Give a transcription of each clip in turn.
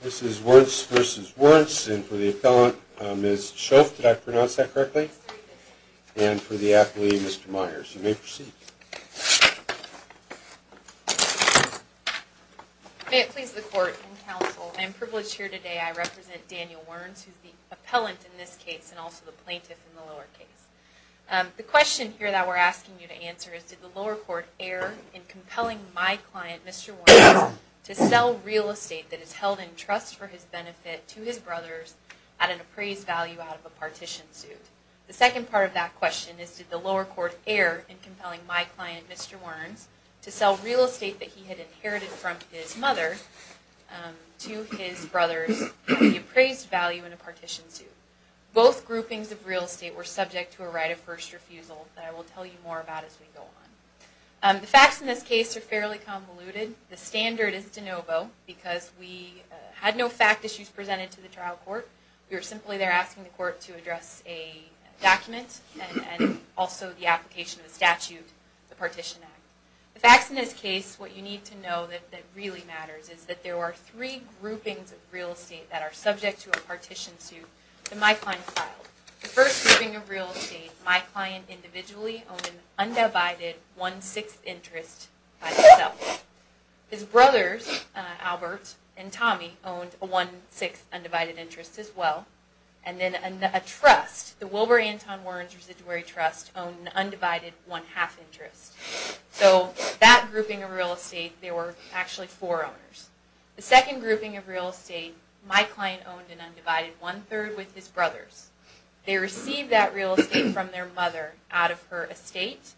This is Wernz v. Wernz, and for the appellant, Ms. Shelf, did I pronounce that correctly? And for the appellee, Mr. Myers. You may proceed. May it please the court and counsel, I am privileged here today, I represent Daniel Wernz, who is the appellant in this case, and also the plaintiff in the lower case. The question here that we're asking you to answer is, did the lower court err in compelling my client, Mr. Wernz, to sell real estate that is held in trust for his benefit to his brothers at an appraised value out of a partition suit? The second part of that question is, did the lower court err in compelling my client, Mr. Wernz, to sell real estate that he had inherited from his mother to his brothers at the appraised value in a partition suit? Both groupings of real estate were subject to a right of first refusal that I will tell you more about as we go on. The facts in this case are fairly convoluted. The standard is de novo, because we had no fact issues presented to the trial court. We were simply there asking the court to address a document, and also the application of the statute, the Partition Act. The facts in this case, what you need to know that really matters is that there were three groupings of real estate that are subject to a partition suit that my client filed. The first grouping of real estate, my client individually owned an undivided one-sixth interest by himself. His brothers, Albert and Tommy, owned a one-sixth undivided interest as well. And then a trust, the Wilbur Anton Wernz Residuary Trust, owned an undivided one-half interest. So that grouping of real estate, there were actually four owners. The second grouping of real estate, my client owned an undivided one-third with his brothers. They received that real estate from their mother out of her estate.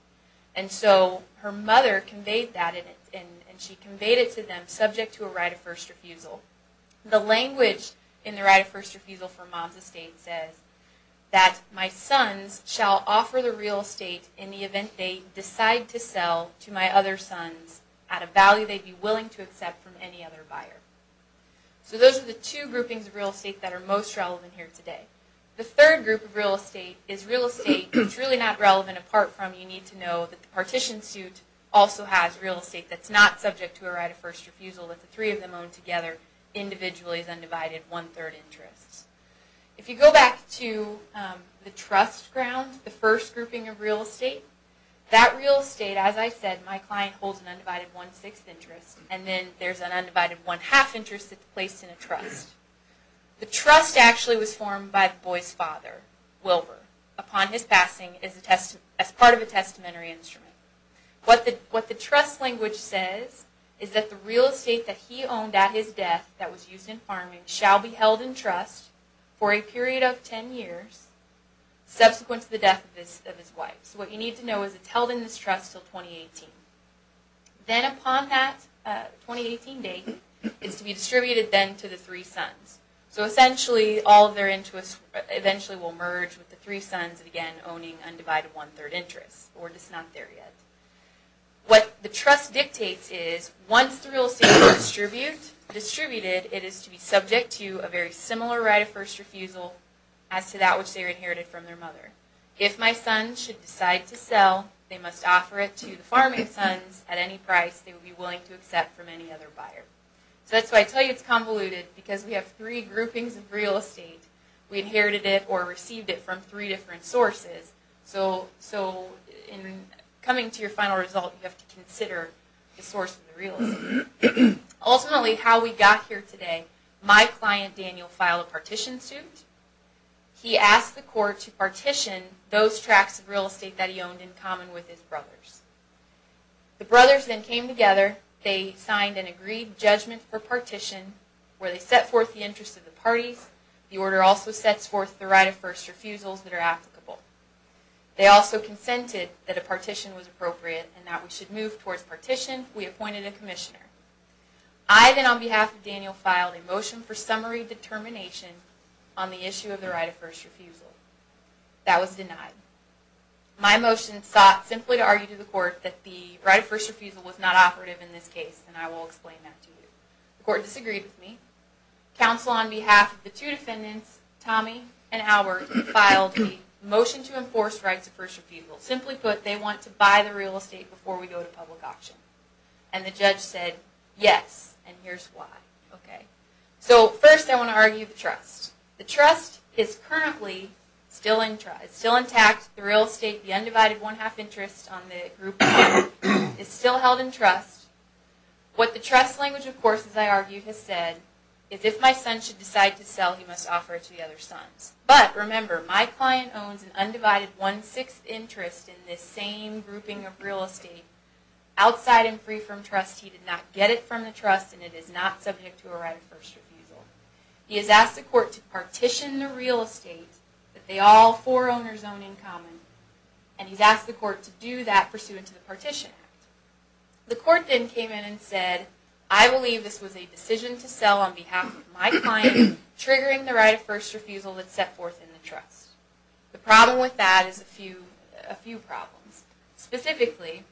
And so her mother conveyed that, and she conveyed it to them subject to a right of first refusal. The language in the right of first refusal for mom's estate says that my sons shall offer the real estate in the event they decide to sell to my other sons at a value they'd be willing to accept from any other buyer. So those are the two groupings of real estate that are most relevant here today. The third group of real estate is real estate that's really not relevant apart from you need to know that the partition suit also has real estate that's not subject to a right of first refusal, that the three of them own together individually as undivided one-third interests. If you go back to the trust ground, the first grouping of real estate, that real estate, as I said, my client holds an undivided one-sixth interest, and then there's an undivided one-half interest that's placed in a trust. The trust actually was formed by the boy's father, Wilbur, upon his passing as part of a testamentary instrument. What the trust language says is that the real estate that he owned at his death that was used in farming shall be held in trust for a period of ten years subsequent to the death of his wife. So what you need to know is it's held in this trust until 2018. Then upon that 2018 date, it's to be distributed then to the three sons. So essentially all of their interests eventually will merge with the three sons again owning undivided one-third interests, or just not there yet. What the trust dictates is once the real estate is distributed, it is to be subject to a very similar right of first refusal as to that which they inherited from their mother. If my son should decide to sell, they must offer it to the farming sons at any price they would be willing to accept from any other buyer. So that's why I tell you it's convoluted, because we have three groupings of real estate. We inherited it or received it from three different sources. So in coming to your final result, you have to consider the source of the real estate. Ultimately how we got here today, my client Daniel filed a partition suit. He asked the court to partition those tracts of real estate that he owned in common with his brothers. The brothers then came together. They signed an agreed judgment for partition where they set forth the interests of the parties. The order also sets forth the right of first refusals that are applicable. They also consented that a partition was appropriate and that we should move towards partition. We appointed a commissioner. I then on behalf of Daniel filed a motion for summary determination on the issue of the right of first refusal. That was denied. My motion sought simply to argue to the court that the right of first refusal was not operative in this case, and I will explain that to you. The court disagreed with me. Counsel on behalf of the two defendants, Tommy and Albert, filed a motion to enforce rights of first refusal. Simply put, they want to buy the real estate before we go to public auction. The judge said, yes, and here's why. First, I want to argue the trust. The trust is currently still intact. The real estate, the undivided one-half interest on the group one, is still held in trust. What the trust language, of course, as I argued, has said is if my son should decide to sell, he must offer it to the other sons. But remember, my client owns an undivided one-sixth interest in this same grouping of real estate. Outside and free from trust, he did not get it from the trust, and it is not subject to a right of first refusal. He has asked the court to partition the real estate that they all four owners own in common, and he's asked the court to do that pursuant to the Partition Act. The court then came in and said, I believe this was a decision to sell on behalf of my client, triggering the right of first refusal that's set forth in the trust. The problem with that is a few problems. Specifically,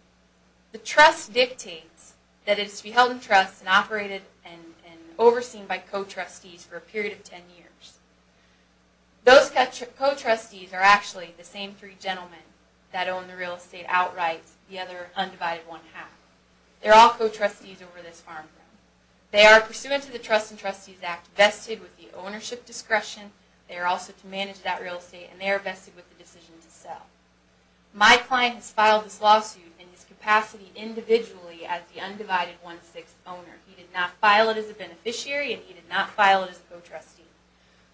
the trust dictates that it is to be held in trust and operated and overseen by co-trustees for a period of 10 years. Those co-trustees are actually the same three gentlemen that own the real estate outright, the other undivided one-half. They're all co-trustees over this farm. They are pursuant to the Trust and Trustees Act, vested with the ownership discretion. They are also to manage that real estate, and they are vested with the decision to sell. My client has filed this lawsuit in his capacity individually as the undivided one-sixth owner. He did not file it as a beneficiary, and he did not file it as a co-trustee.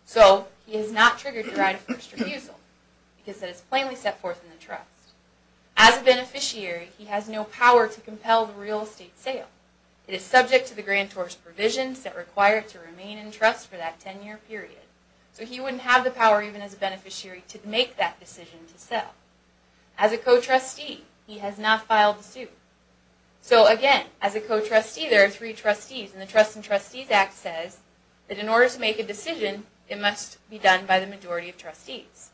So, he has not triggered the right of first refusal because it is plainly set forth in the trust. As a beneficiary, he has no power to compel the real estate sale. It is subject to the grantor's provisions that require it to remain in trust for that 10-year period. So, he wouldn't have the power, even as a beneficiary, to make that decision to sell. As a co-trustee, he has not filed the suit. So, again, as a co-trustee, there are three trustees, and the Trust and Trustees Act says that in order to make a decision, it must be done by the majority of trustees.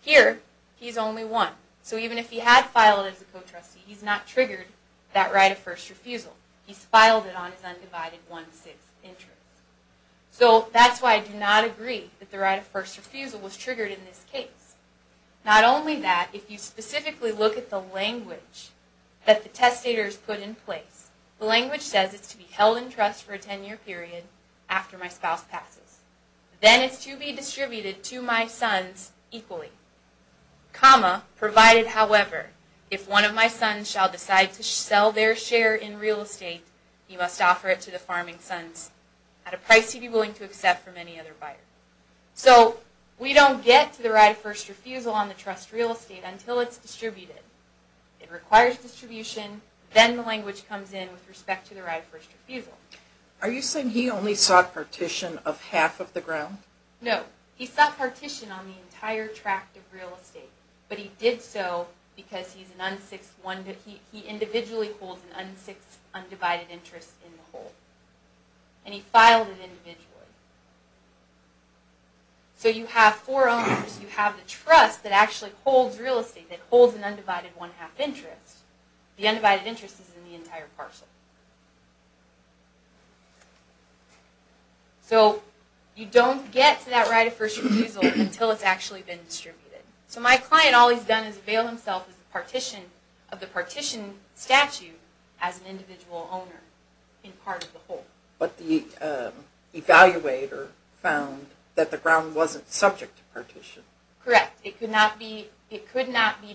Here, he's only one. So, even if he had filed as a co-trustee, he's not triggered that right of first refusal. He's filed it on his undivided one-sixth interest. So, that's why I do not agree that the right of first refusal was triggered in this case. Not only that, if you specifically look at the language that the testators put in place, the language says it's to be held in trust for a 10-year period after my spouse passes. Then, it's to be distributed to my sons equally. Comma, provided, however, if one of my sons shall decide to sell their share in real estate, he must offer it to the farming sons at a price he be willing to accept from any other buyer. So, we don't get to the right of first refusal on the trust real estate until it's distributed. It requires distribution. Then, the language comes in with respect to the right of first refusal. Are you saying he only sought partition of half of the ground? No. He sought partition on the entire tract of real estate. But, he did so because he individually holds an undivided one-sixth interest in the whole. And, he filed it individually. So, you have four owners. You have the trust that actually holds real estate, that holds an undivided one-half interest. The undivided interest is in the entire parcel. So, you don't get to that right of first refusal until it's actually been distributed. So, my client, all he's done is avail himself of the partition statute as an individual owner in part of the whole. But, the evaluator found that the ground wasn't subject to partition. Correct. It could not be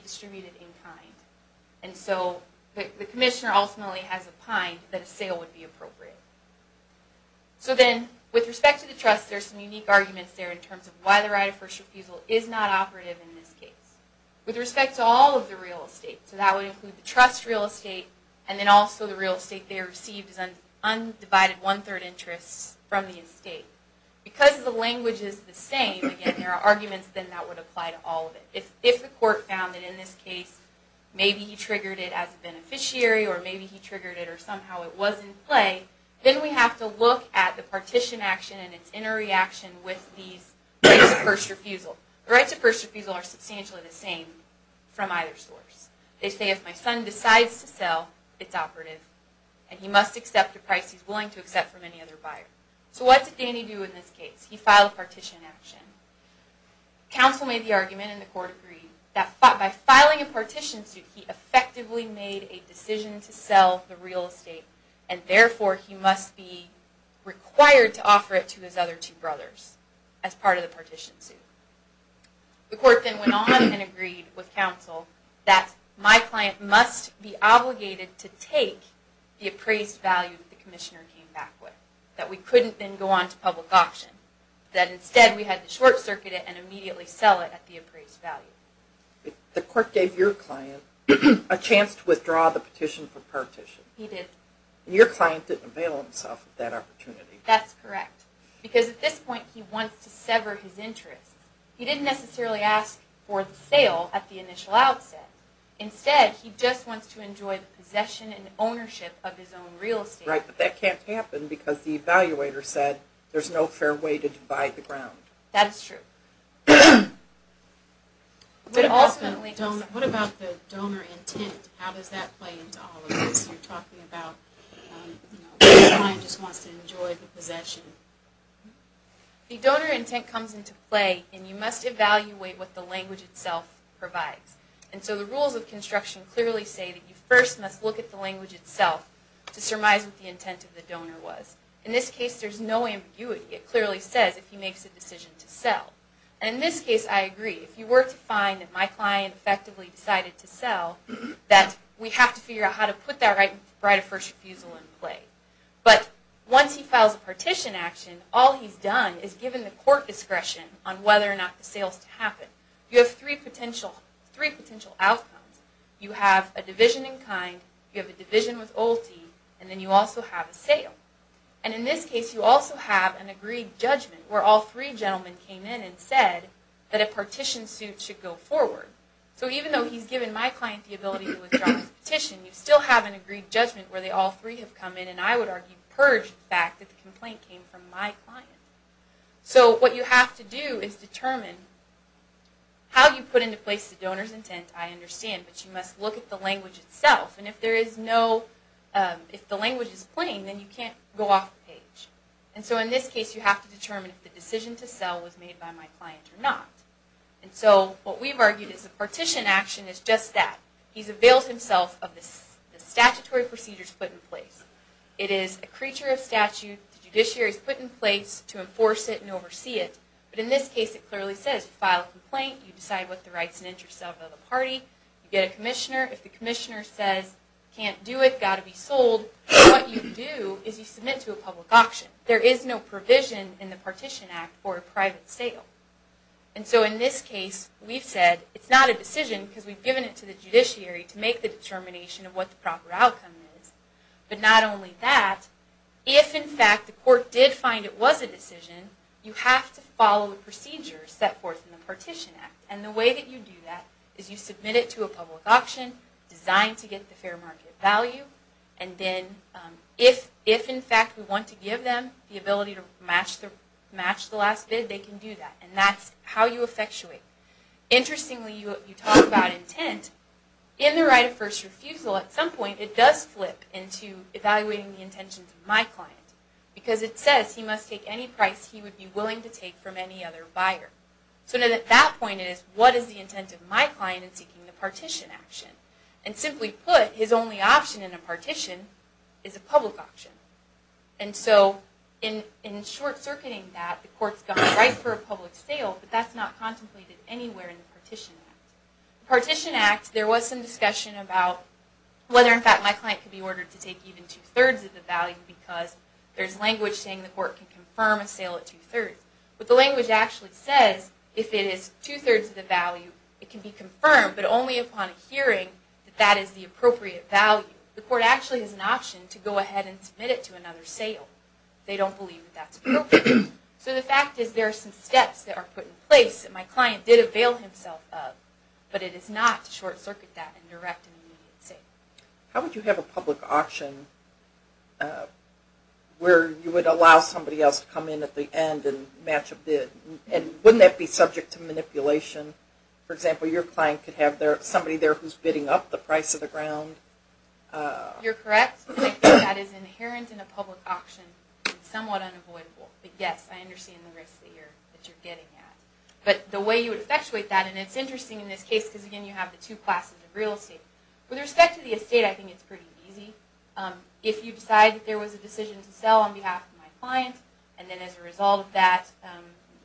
distributed in kind. And so, the commissioner ultimately has opined that a sale would be appropriate. So then, with respect to the trust, there's some unique arguments there in terms of why the right of first refusal is not operative in this case. With respect to all of the real estate, so that would include the trust real estate, and then also the real estate they received as an undivided one-third interest from the estate. Because the language is the same, again, there are arguments that that would apply to all of it. If the court found that in this case, maybe he triggered it as a beneficiary, or maybe he triggered it, or somehow it was in play, then we have to look at the partition action and its inner reaction with these rights of first refusal. The rights of first refusal are substantially the same from either source. They say, if my son decides to sell, it's operative, and he must accept a price he's willing to accept from any other buyer. So, what did Danny do in this case? He filed a partition action. Counsel made the argument, and the court agreed, that by filing a partition suit, he effectively made a decision to sell the real estate, and therefore he must be required to offer it to his other two brothers as part of the partition suit. The court then went on and agreed with counsel that my client must be obligated to take the appraised value that the commissioner came back with. That we couldn't then go on to public auction. That instead, we had to short circuit it and immediately sell it at the appraised value. The court gave your client a chance to withdraw the petition for partition. He did. Your client didn't avail himself of that opportunity. That's correct. Because at this point, he wants to sever his interest. He didn't necessarily ask for the sale at the initial outset. Instead, he just wants to enjoy the possession and ownership of his own real estate. Right, but that can't happen because the evaluator said there's no fair way to divide the ground. That is true. But ultimately, what about the donor intent? How does that play into all of this? You're talking about the client just wants to enjoy the possession. The donor intent comes into play, and you must evaluate what the language itself provides. And so the rules of construction clearly say that you first must look at the language itself to surmise what the intent of the donor was. In this case, there's no ambiguity. It clearly says if he makes a decision to sell. And in this case, I agree. If you were to find that my client effectively decided to sell, that we have to figure out how to put that right of first refusal in play. But once he files a partition action, all he's done is given the court discretion on whether or not the sales to happen. You have three potential outcomes. You have a division in kind. You have a division with ulti. And then you also have a sale. And in this case, you also have an agreed judgment where all three gentlemen came in and said that a partition suit should go forward. So even though he's given my client the ability to withdraw his petition, you still have an agreed judgment where all three have come in, and I would argue purge the fact that the complaint came from my client. So what you have to do is determine how you put into place the donor's intent. I understand, but you must look at the language itself. And if the language is plain, then you can't go off the page. And so in this case, you have to determine if the decision to sell was made by my client or not. And so what we've argued is a partition action is just that. He's availed himself of the statutory procedures put in place. It is a creature of statute. The judiciary's put in place to enforce it and oversee it. But in this case, it clearly says file a complaint. You decide what the rights and interests of the party. You get a commissioner. If the commissioner says, can't do it, got to be sold, what you do is you submit to a public auction. There is no provision in the Partition Act for a private sale. And so in this case, we've said it's not a decision because we've given it to the judiciary to make the determination of what the proper outcome is. But not only that, if in fact the court did find it was a decision, you have to follow the procedures set forth in the Partition Act. And the way that you do that is you submit it to a public auction designed to get the fair market value. And then if in fact we want to give them the ability to match the last bid, they can do that. And that's how you effectuate. Interestingly, you talk about intent. And in the right of first refusal, at some point it does flip into evaluating the intentions of my client. Because it says he must take any price he would be willing to take from any other buyer. So then at that point it is, what is the intent of my client in seeking the partition action? And simply put, his only option in a partition is a public auction. And so in short-circuiting that, the court's gone right for a public sale, but that's not contemplated anywhere in the Partition Act. The Partition Act, there was some discussion about whether in fact my client could be ordered to take even two-thirds of the value because there's language saying the court can confirm a sale at two-thirds. But the language actually says if it is two-thirds of the value, it can be confirmed. But only upon hearing that that is the appropriate value. The court actually has an option to go ahead and submit it to another sale. They don't believe that that's appropriate. So the fact is there are some steps that are put in place that my client did avail himself of. But it is not to short-circuit that and direct an immediate sale. How would you have a public auction where you would allow somebody else to come in at the end and match a bid? And wouldn't that be subject to manipulation? For example, your client could have somebody there who's bidding up the price of the ground. You're correct. I think that is inherent in a public auction and somewhat unavoidable. But yes, I understand the risk that you're getting at. But the way you would effectuate that, and it's interesting in this case because again you have the two classes of real estate. With respect to the estate, I think it's pretty easy. If you decide that there was a decision to sell on behalf of my client, and then as a result of that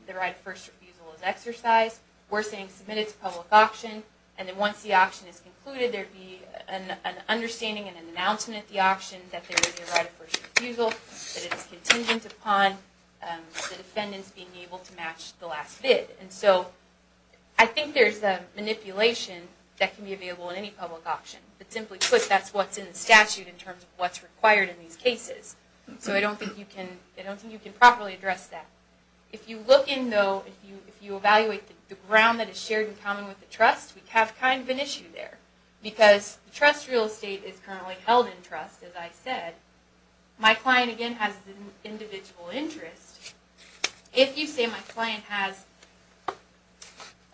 the right of first refusal is exercised, we're saying submit it to public auction, and then once the auction is concluded, there would be an understanding and an announcement at the auction that there would be a right of first refusal, that it's contingent upon the defendants being able to match the last bid. And so I think there's a manipulation that can be available in any public auction. But simply put, that's what's in the statute in terms of what's required in these cases. So I don't think you can properly address that. If you look in though, if you evaluate the ground that is shared in common with the trust, we have kind of an issue there. Because the trust real estate is currently held in trust, as I said. My client again has an individual interest. If you say my client has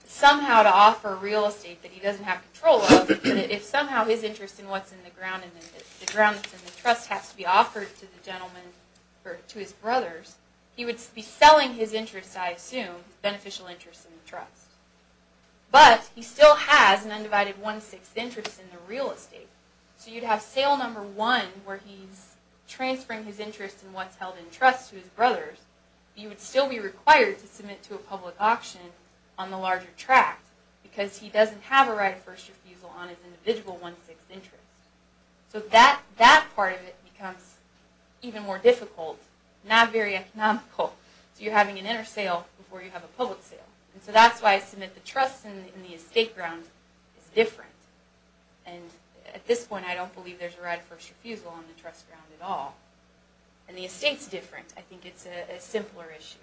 somehow to offer real estate that he doesn't have control of, and if somehow his interest in what's in the ground and the ground that's in the trust has to be offered to the gentleman, to his brothers, he would be selling his interest, I assume, beneficial interest in the trust. But he still has an undivided one-sixth interest in the real estate. So you'd have sale number one where he's transferring his interest in what's held in trust to his brothers. He would still be required to submit to a public auction on the larger tract, because he doesn't have a right of first refusal on his individual one-sixth interest. So that part of it becomes even more difficult, not very economical. So you're having an inter-sale before you have a public sale. And so that's why I submit the trust in the estate ground is different. And at this point, I don't believe there's a right of first refusal on the trust ground at all. And the estate's different. I think it's a simpler issue.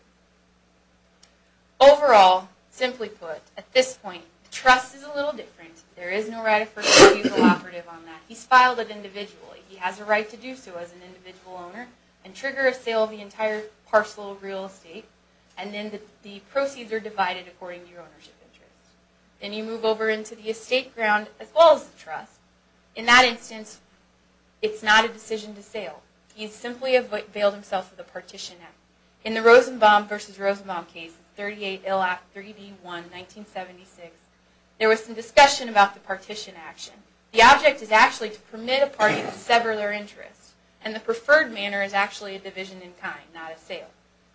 Overall, simply put, at this point, the trust is a little different. There is no right of first refusal operative on that. He's filed it individually. He has a right to do so as an individual owner and trigger a sale of the entire parcel of real estate. And then the proceeds are divided according to your ownership interest. Then you move over into the estate ground as well as the trust. In that instance, it's not a decision to sale. He's simply availed himself of the partition act. In the Rosenbaum v. Rosenbaum case, 38 Ill Act 3B1, 1976, there was some discussion about the partition action. The object is actually to permit a party to sever their interest. And the preferred manner is actually a division in kind, not a sale.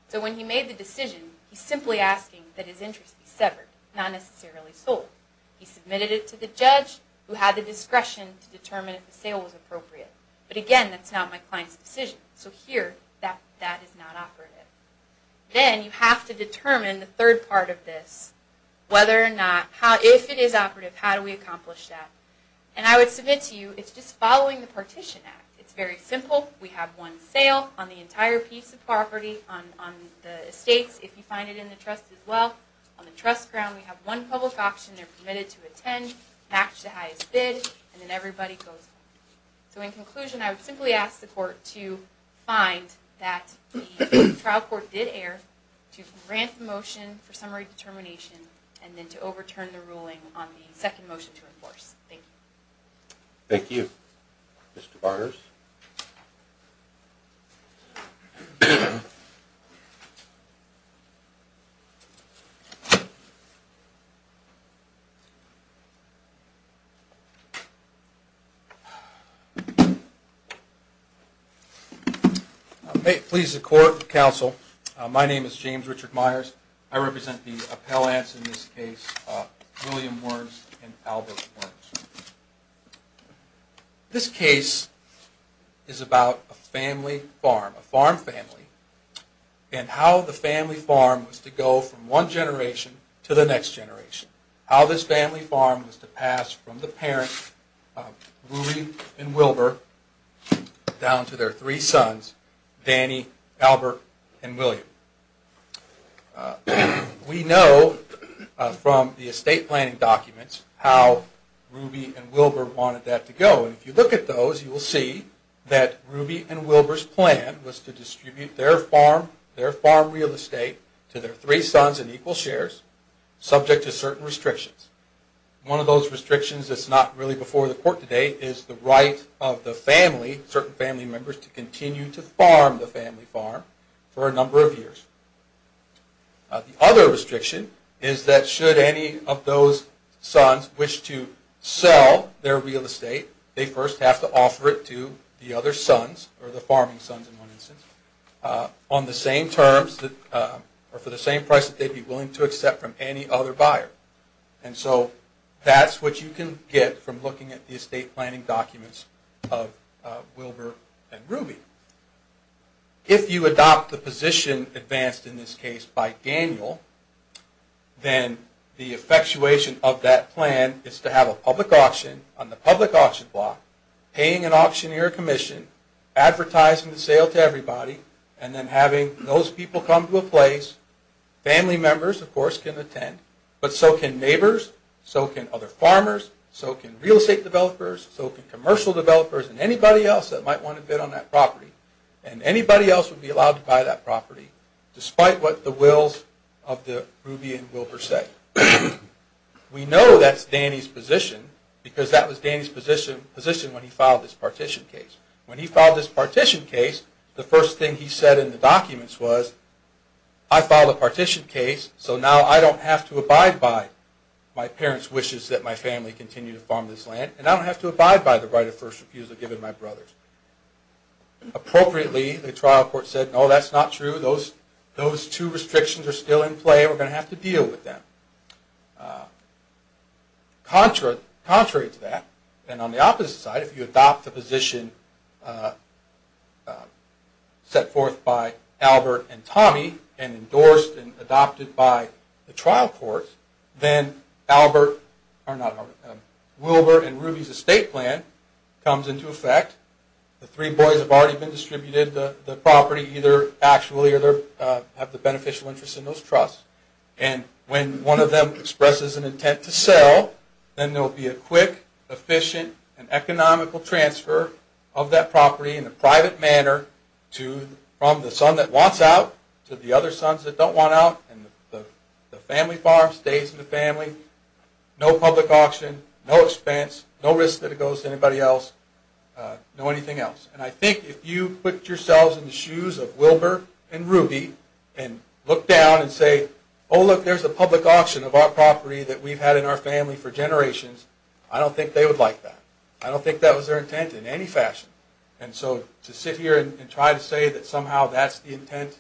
So when he made the decision, he's simply asking that his interest be severed, not necessarily sold. He submitted it to the judge, who had the discretion to determine if the sale was appropriate. But again, that's not my client's decision. So here, that is not operative. Then you have to determine the third part of this. If it is operative, how do we accomplish that? And I would submit to you, it's just following the partition act. It's very simple. We have one sale on the entire piece of property. On the estates, if you find it in the trust as well. On the trust ground, we have one public option. They're permitted to attend, match the highest bid, and then everybody goes home. So in conclusion, I would simply ask the court to find that the trial court did err, to grant the motion for summary determination, and then to overturn the ruling on the second motion to enforce. Thank you. Thank you. Mr. Barters? May it please the court and counsel, my name is James Richard Myers. I represent the appellants in this case, William Wernz and Albert Wernz. This case is about a family farm, a farm family, and how the family farm was to go from one generation to the next generation. How this family farm was to pass from the parents, Ruby and Wilbur, down to their three sons, Danny, Albert, and William. We know from the estate planning documents how Ruby and Wilbur wanted that to go. If you look at those, you will see that Ruby and Wilbur's plan was to distribute their farm, their farm real estate, to their three sons in equal shares, subject to certain restrictions. One of those restrictions is not really before the court today, is the right of the family, certain family members, to continue to farm the family farm for a number of years. The other restriction is that should any of those sons wish to sell their real estate, they first have to offer it to the other sons, or the farming sons in one instance, on the same terms, or for the same price that they'd be willing to accept from any other buyer. That's what you can get from looking at the estate planning documents of Wilbur and Ruby. If you adopt the position advanced in this case by Daniel, then the effectuation of that plan is to have a public auction on the public auction block, paying an auctioneer commission, advertising the sale to everybody, and then having those people come to a place, family members of course can attend, but so can neighbors, so can other farmers, so can real estate developers, so can commercial developers, and anybody else that might want to bid on that property. And anybody else would be allowed to buy that property, despite what the wills of the Ruby and Wilbur say. We know that's Danny's position, because that was Danny's position when he filed this partition case. When he filed this partition case, the first thing he said in the documents was, I filed a partition case, so now I don't have to abide by my parents' wishes that my family continue to farm this land, and I don't have to abide by the right of first refusal given to my brothers. Appropriately, the trial court said, no that's not true, those two restrictions are still in play, we're going to have to deal with them. Contrary to that, and on the opposite side, if you adopt the position set forth by Albert and Tommy, and endorsed and adopted by the trial court, then Wilbur and Ruby's estate plan comes into effect, the three boys have already been distributed the property, either actually or have the beneficial interest in those trusts, and when one of them expresses an intent to sell, then there will be a quick, efficient, and economical transfer of that property in a private manner from the son that wants out to the other sons that don't want out, and the family farm stays in the family, no public auction, no expense, no risk that it goes to anybody else, no anything else. And I think if you put yourselves in the shoes of Wilbur and Ruby, and look down and say, oh look there's a public auction of our property that we've had in our family for generations, I don't think they would like that. I don't think that was their intent in any fashion. And so to sit here and try to say that somehow that's the intent,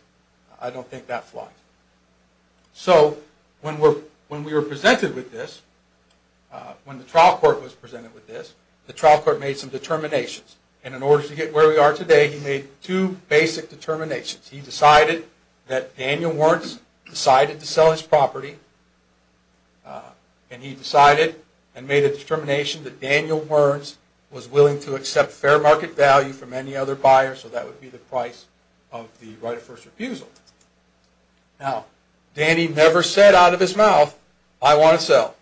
I don't think that flies. So when we were presented with this, when the trial court was presented with this, the trial court made some determinations, and in order to get where we are today, he made two basic determinations. He decided that Daniel Wernz decided to sell his property, and he decided and made a determination that Daniel Wernz was willing to accept fair market value from any other buyer, so that would be the price of the right of first refusal. Now, Danny never said out of his mouth, I want to sell.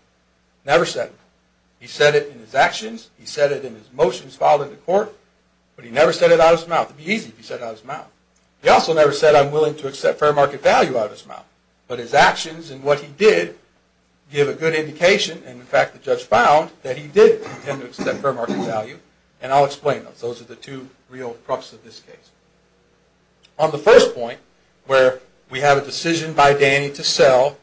Never said it. He said it in his actions, he said it in his motions filed in the court, but he never said it out of his mouth. It would be easy if he said it out of his mouth. He also never said I'm willing to accept fair market value out of his mouth. But his actions and what he did give a good indication, and in fact the judge found that he did intend to accept fair market value, and I'll explain those. Those are the two real crux of this case. On the first point, where we have a decision by Danny to sell,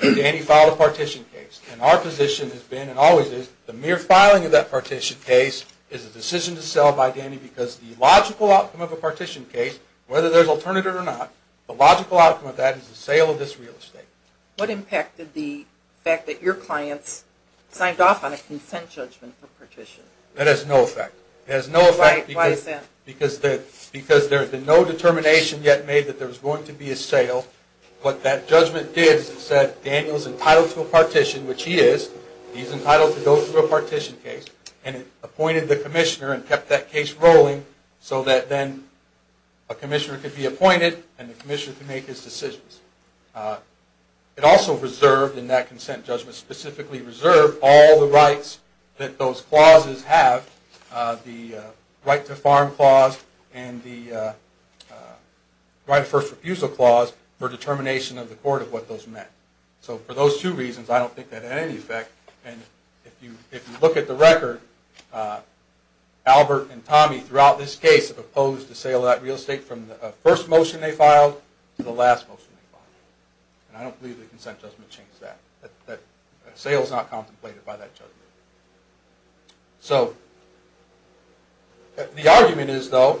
Danny filed a partition case, and our position has been and always is the mere filing of that partition case is a decision to sell by Danny because the logical outcome of a partition case, whether there's alternative or not, the logical outcome of that is the sale of this real estate. What impacted the fact that your clients signed off on a consent judgment for partition? That has no effect. It has no effect because there has been no determination yet made that there was going to be a sale. What that judgment did is it said Daniel is entitled to a partition, which he is. He's entitled to go through a partition case, and it appointed the commissioner and kept that case rolling so that then a commissioner could be appointed and the commissioner could make his decisions. It also reserved in that consent judgment, specifically reserved all the rights that those clauses have, the right to farm clause and the right of first refusal clause, for determination of the court of what those meant. For those two reasons, I don't think that had any effect. If you look at the record, Albert and Tommy throughout this case have opposed the sale of that real estate from the first motion they filed to the last motion they filed. I don't believe the consent judgment changed that. A sale is not contemplated by that judgment. The argument is, though,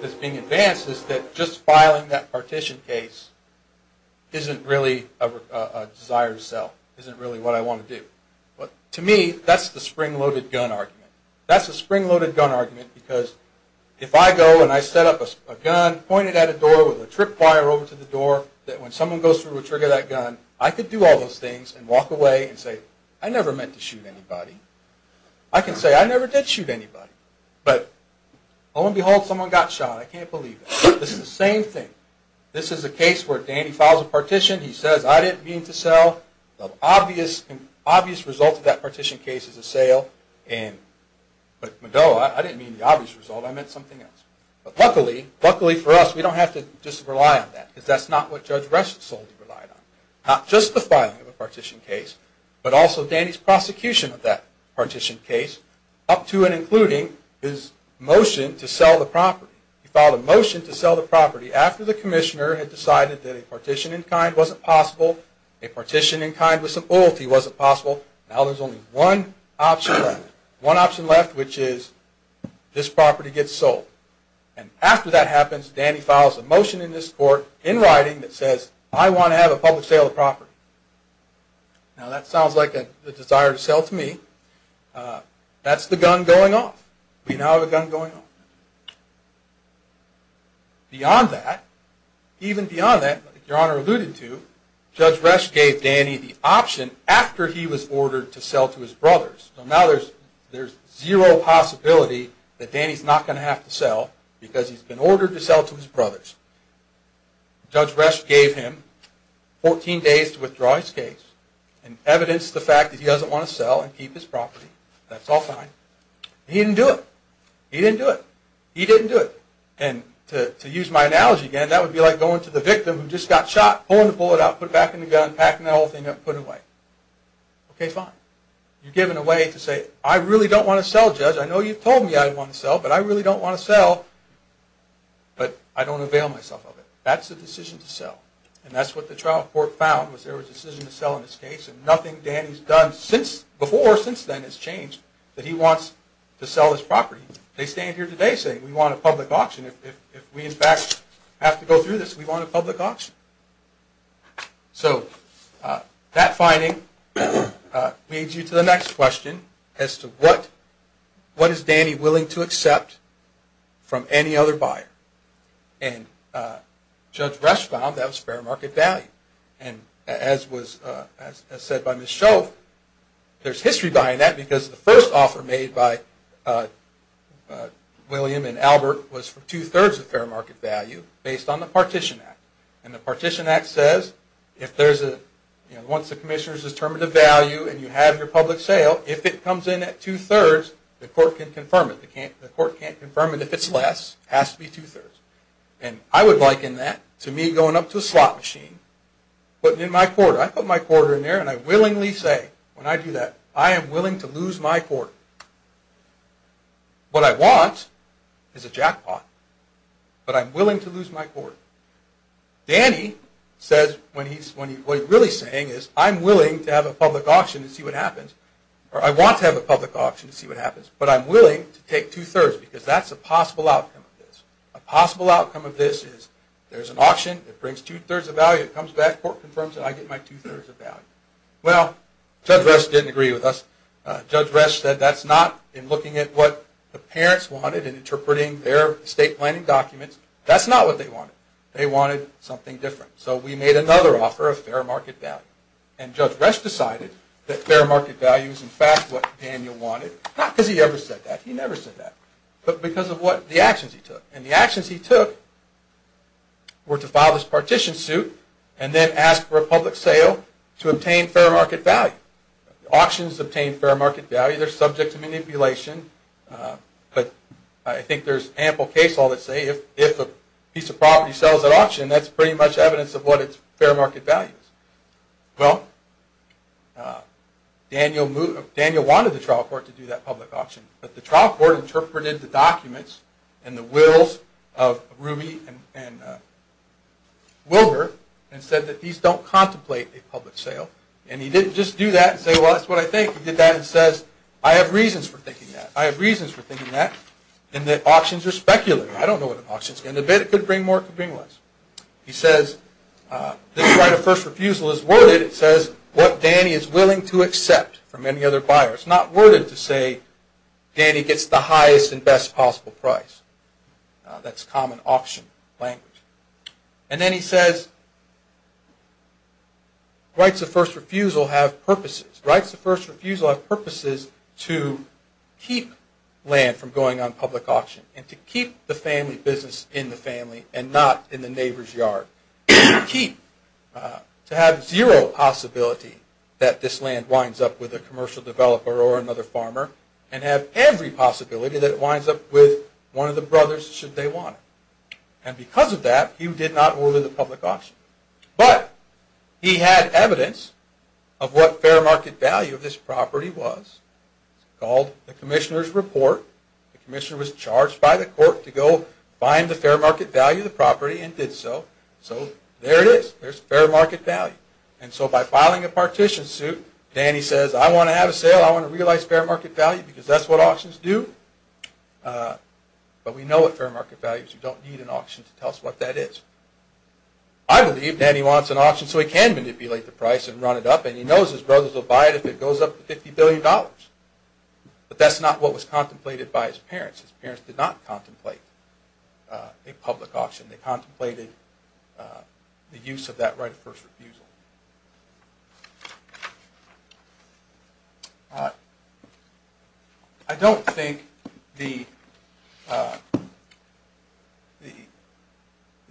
that's being advanced, is that just filing that partition case isn't really a desire to sell, isn't really what I want to do. To me, that's the spring-loaded gun argument. That's the spring-loaded gun argument because if I go and I set up a gun pointed at a door with a trip wire over to the door, that when someone goes through to trigger that gun, I could do all those things and walk away and say, I never meant to shoot anybody. I can say, I never did shoot anybody. But lo and behold, someone got shot. I can't believe it. This is the same thing. This is a case where Danny files a partition. He says, I didn't mean to sell. The obvious result of that partition case is a sale. But, no, I didn't mean the obvious result. I meant something else. But luckily, luckily for us, we don't have to just rely on that because that's not what Judge Russell solely relied on. Not just the filing of a partition case, but also Danny's prosecution of that partition case, up to and including his motion to sell the property. He filed a motion to sell the property after the commissioner had decided that a partition in kind wasn't possible, a partition in kind with some loyalty wasn't possible. Now there's only one option left, one option left, which is this property gets sold. And after that happens, Danny files a motion in this court, in writing, that says, I want to have a public sale of the property. Now that sounds like a desire to sell to me. That's the gun going off. We now have a gun going off. Beyond that, even beyond that, Your Honor alluded to, Judge Resch gave Danny the option after he was ordered to sell to his brothers. So now there's zero possibility that Danny's not going to have to sell because he's been ordered to sell to his brothers. Judge Resch gave him 14 days to withdraw his case and evidenced the fact that he doesn't want to sell and keep his property. That's all fine. He didn't do it. He didn't do it. He didn't do it. And to use my analogy again, that would be like going to the victim who just got shot, pulling the bullet out, putting it back in the gun, packing that whole thing up and putting it away. Okay, fine. You've given away to say, I really don't want to sell, Judge. I know you've told me I want to sell, but I really don't want to sell, but I don't avail myself of it. That's the decision to sell. And that's what the trial court found was there was a decision to sell in this case and nothing Danny's done before since then has changed that he wants to sell his property. They stand here today saying, we want a public auction. If we in fact have to go through this, we want a public auction. So that finding leads you to the next question as to what is Danny willing to accept from any other buyer. And Judge Resch found that was fair market value. And as said by Ms. Shove, there's history behind that because the first offer made by William and Albert was for two-thirds of fair market value based on the Partition Act. And the Partition Act says, once the commissioner's determined the value and you have your public sale, if it comes in at two-thirds, the court can confirm it. The court can't confirm it if it's less. It has to be two-thirds. And I would liken that to me going up to a slot machine and putting in my quarter. I put my quarter in there and I willingly say, when I do that, I am willing to lose my quarter. What I want is a jackpot, but I'm willing to lose my quarter. Danny says, what he's really saying is, I'm willing to have a public auction to see what happens, or I want to have a public auction to see what happens, but I'm willing to take two-thirds because that's a possible outcome of this. A possible outcome of this is there's an auction, it brings two-thirds of value, it comes back, the court confirms it, and I get my two-thirds of value. Well, Judge Resch didn't agree with us. Judge Resch said that's not, in looking at what the parents wanted and interpreting their estate planning documents, that's not what they wanted. They wanted something different. So we made another offer of fair market value. And Judge Resch decided that fair market value is in fact what Daniel wanted, not because he ever said that, he never said that, but because of the actions he took. And the actions he took were to file his partition suit and then ask for a public sale to obtain fair market value. Now, auctions obtain fair market value, they're subject to manipulation, but I think there's ample case law that say if a piece of property sells at auction, that's pretty much evidence of what its fair market value is. Well, Daniel wanted the trial court to do that public auction, but the trial court interpreted the documents and the wills of Ruby and Wilbur and said that these don't contemplate a public sale, and he didn't just do that, and say well that's what I think, he did that and says I have reasons for thinking that, I have reasons for thinking that, and that auctions are speculative. I don't know what an auction is. In a bit it could bring more, it could bring less. He says this right of first refusal is worded, it says, what Danny is willing to accept from any other buyer. It's not worded to say Danny gets the highest and best possible price. That's common auction language. And then he says rights of first refusal have purposes. Rights of first refusal have purposes to keep land from going on public auction and to keep the family business in the family and not in the neighbor's yard. To have zero possibility that this land winds up with a commercial developer or another farmer and have every possibility that it winds up with one of the brothers should they want it. And because of that he did not order the public auction. But he had evidence of what fair market value of this property was. It's called the commissioner's report. The commissioner was charged by the court to go find the fair market value of the property and did so. So there it is, there's fair market value. And so by filing a partition suit Danny says I want to have a sale, I want to realize fair market value because that's what auctions do. But we know what fair market value is. You don't need an auction to tell us what that is. I believe Danny wants an auction so he can manipulate the price and run it up and he knows his brothers will buy it if it goes up to 50 billion dollars. But that's not what was contemplated by his parents. His parents did not contemplate a public auction. They contemplated the use of that right of first refusal. I don't think the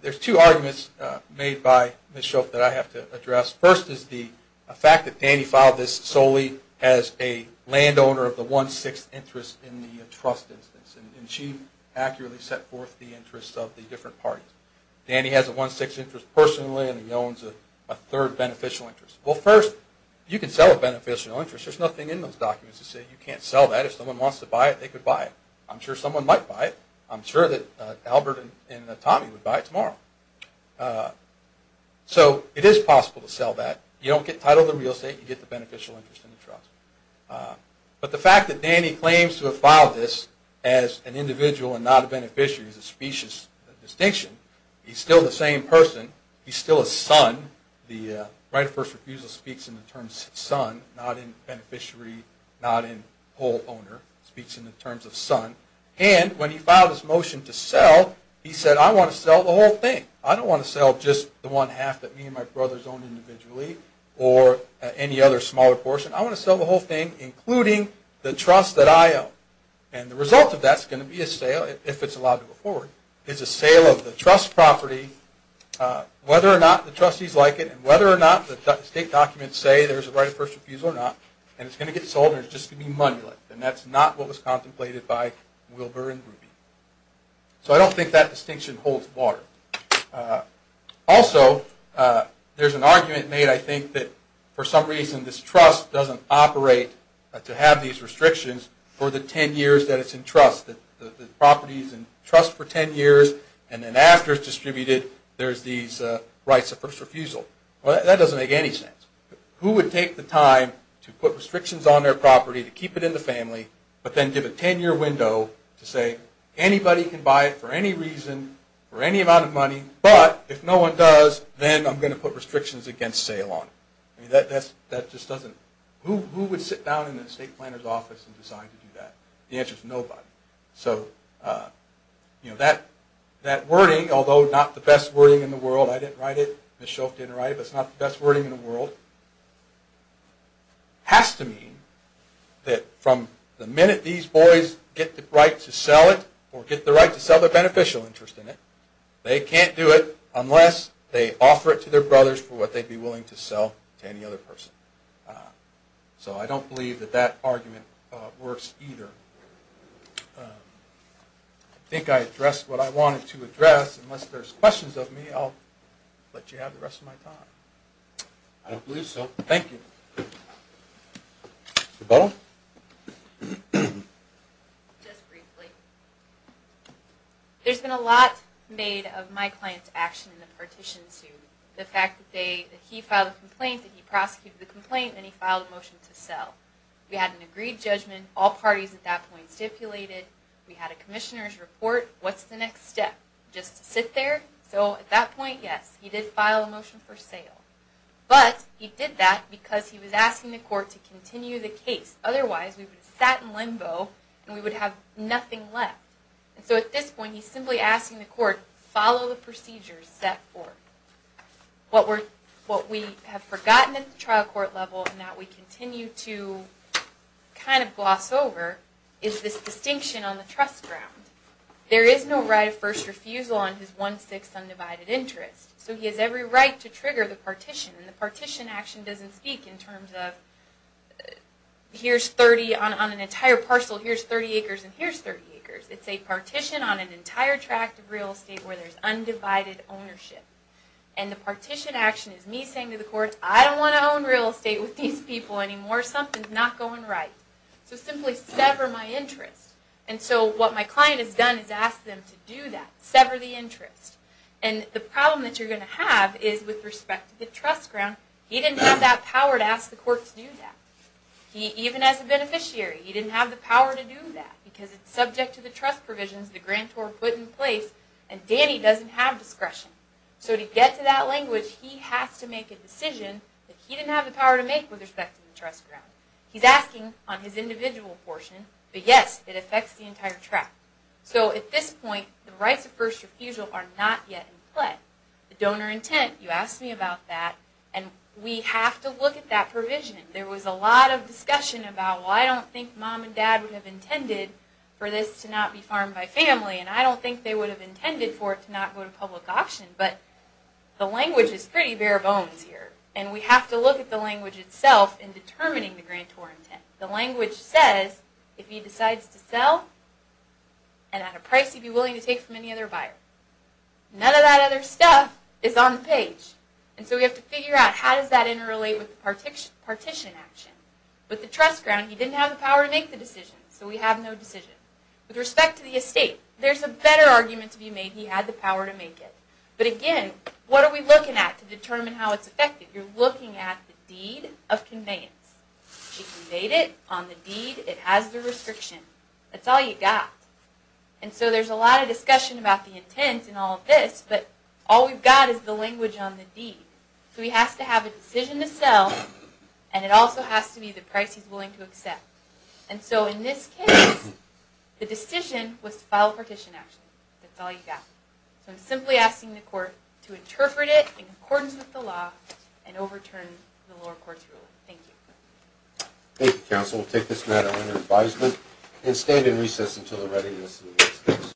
there's two arguments made by Ms. Shope that I have to address. First is the fact that Danny filed this solely as a landowner of the one-sixth interest in the trust instance and she accurately set forth the interests of the different parties. Danny has a one-sixth interest personally and he owns a third beneficial interest. Well first, you can sell a beneficial interest. There's nothing in those documents that say you can't sell that. If someone wants to buy it, they could buy it. I'm sure someone might buy it. I'm sure that Albert and Tommy would buy it tomorrow. So it is possible to sell that. You don't get title of the real estate, you get the beneficial interest in the trust. But the fact that Danny claims to have filed this as an individual and not a beneficiary is a specious distinction. He's still the same person. He's still a son. The right of first refusal speaks in the terms of son, not in beneficiary, not in whole owner. It speaks in the terms of son. And when he filed his motion to sell, he said, I want to sell the whole thing. I don't want to sell just the one half that me and my brothers own individually or any other smaller portion. I want to sell the whole thing including the trust that I own. And the result of that is going to be a sale, if it's allowed to go forward, is a sale of the trust property whether or not the trustees like it and whether or not the state documents say there's a right of first refusal or not. And it's going to get sold and it's just going to be monolith. And that's not what was contemplated by Wilbur and Ruby. So I don't think that distinction holds water. Also, there's an argument made, I think, that for some reason this trust doesn't operate to have these restrictions for the 10 years that it's in trust, that the property is in trust for 10 years and then after it's distributed there's these rights of first refusal. Well, that doesn't make any sense. Who would take the time to put restrictions on their property to keep it in the family, but then give a 10 year window to say anybody can buy it for any reason for any amount of money, but if no one does then I'm going to put restrictions against sale on it. Who would sit down in the estate planner's office and decide to do that? The answer is nobody. So that wording, although not the best wording in the world, I didn't write it, Ms. Shelf didn't write it, but it's not the best wording in the world, has to mean that from the minute these boys get the right to sell it or get the right to sell their beneficial interest in it, they can't do it unless they offer it to their brothers for what they'd be willing to sell to any other person. So I don't believe that that argument works either. I think I addressed what I wanted to address. Unless there's questions of me, I'll let you have the rest of my time. I don't believe so. Thank you. Mr. Butler? Just briefly. There's been a lot made of my client's action in the partition suit. The fact that he filed a complaint, that he prosecuted the complaint, and he filed a motion to sell. We had an agreed judgment. All parties at that point stipulated. We had a commissioner's report. What's the next step? Just sit there? So at that point, yes. He did file a motion for sale. But he did that because he was asking the court to continue the case. Otherwise, we would have sat in limbo and we would have nothing left. So at this point, he's simply asking the court to follow the procedures set forth. What we have forgotten at the trial court level and that we continue to kind of gloss over is this distinction on the trust ground. There is no right of first refusal on his one-sixth undivided interest. So he has every right to trigger the partition. And the partition action doesn't speak in terms of It's a partition on an entire tract of real estate where there's undivided ownership. And the partition action is me saying to the court, I don't want to own real estate with these people anymore. Something's not going right. So simply sever my interest. And so what my client has done is ask them to do that. Sever the interest. And the problem that you're going to have is with respect to the trust ground. He didn't have that power to ask the court to do that. Even as a beneficiary, he didn't have the power to do that. Because it's subject to the trust provisions the grantor put in place. And Danny doesn't have discretion. So to get to that language, he has to make a decision that he didn't have the power to make with respect to the trust ground. He's asking on his individual portion. But yes, it affects the entire tract. So at this point, the rights of first refusal are not yet in play. The donor intent, you asked me about that. And we have to look at that provision. There was a lot of discussion about, well, I don't think mom and dad would have intended for this to not be farmed by family. And I don't think they would have intended for it to not go to public auction. But the language is pretty bare bones here. And we have to look at the language itself in determining the grantor intent. The language says, if he decides to sell, and at a price he'd be willing to take from any other buyer. None of that other stuff is on the page. And so we have to figure out how does that interrelate with the partition action. With the trust ground, he didn't have the power to make the decision. So we have no decision. With respect to the estate, there's a better argument to be made. He had the power to make it. But again, what are we looking at to determine how it's affected? You're looking at the deed of conveyance. She conveyed it on the deed. It has the restriction. That's all you got. And so there's a lot of discussion about the intent and all of this. But all we've got is the language on the deed. So he has to have a decision to sell. And it also has to be the price he's willing to accept. And so in this case, the decision was to file a partition action. That's all you got. So I'm simply asking the court to interpret it in accordance with the law and overturn the lower court's rule. Thank you. Thank you, counsel. We'll take this matter under advisement and stand in recess until the readiness.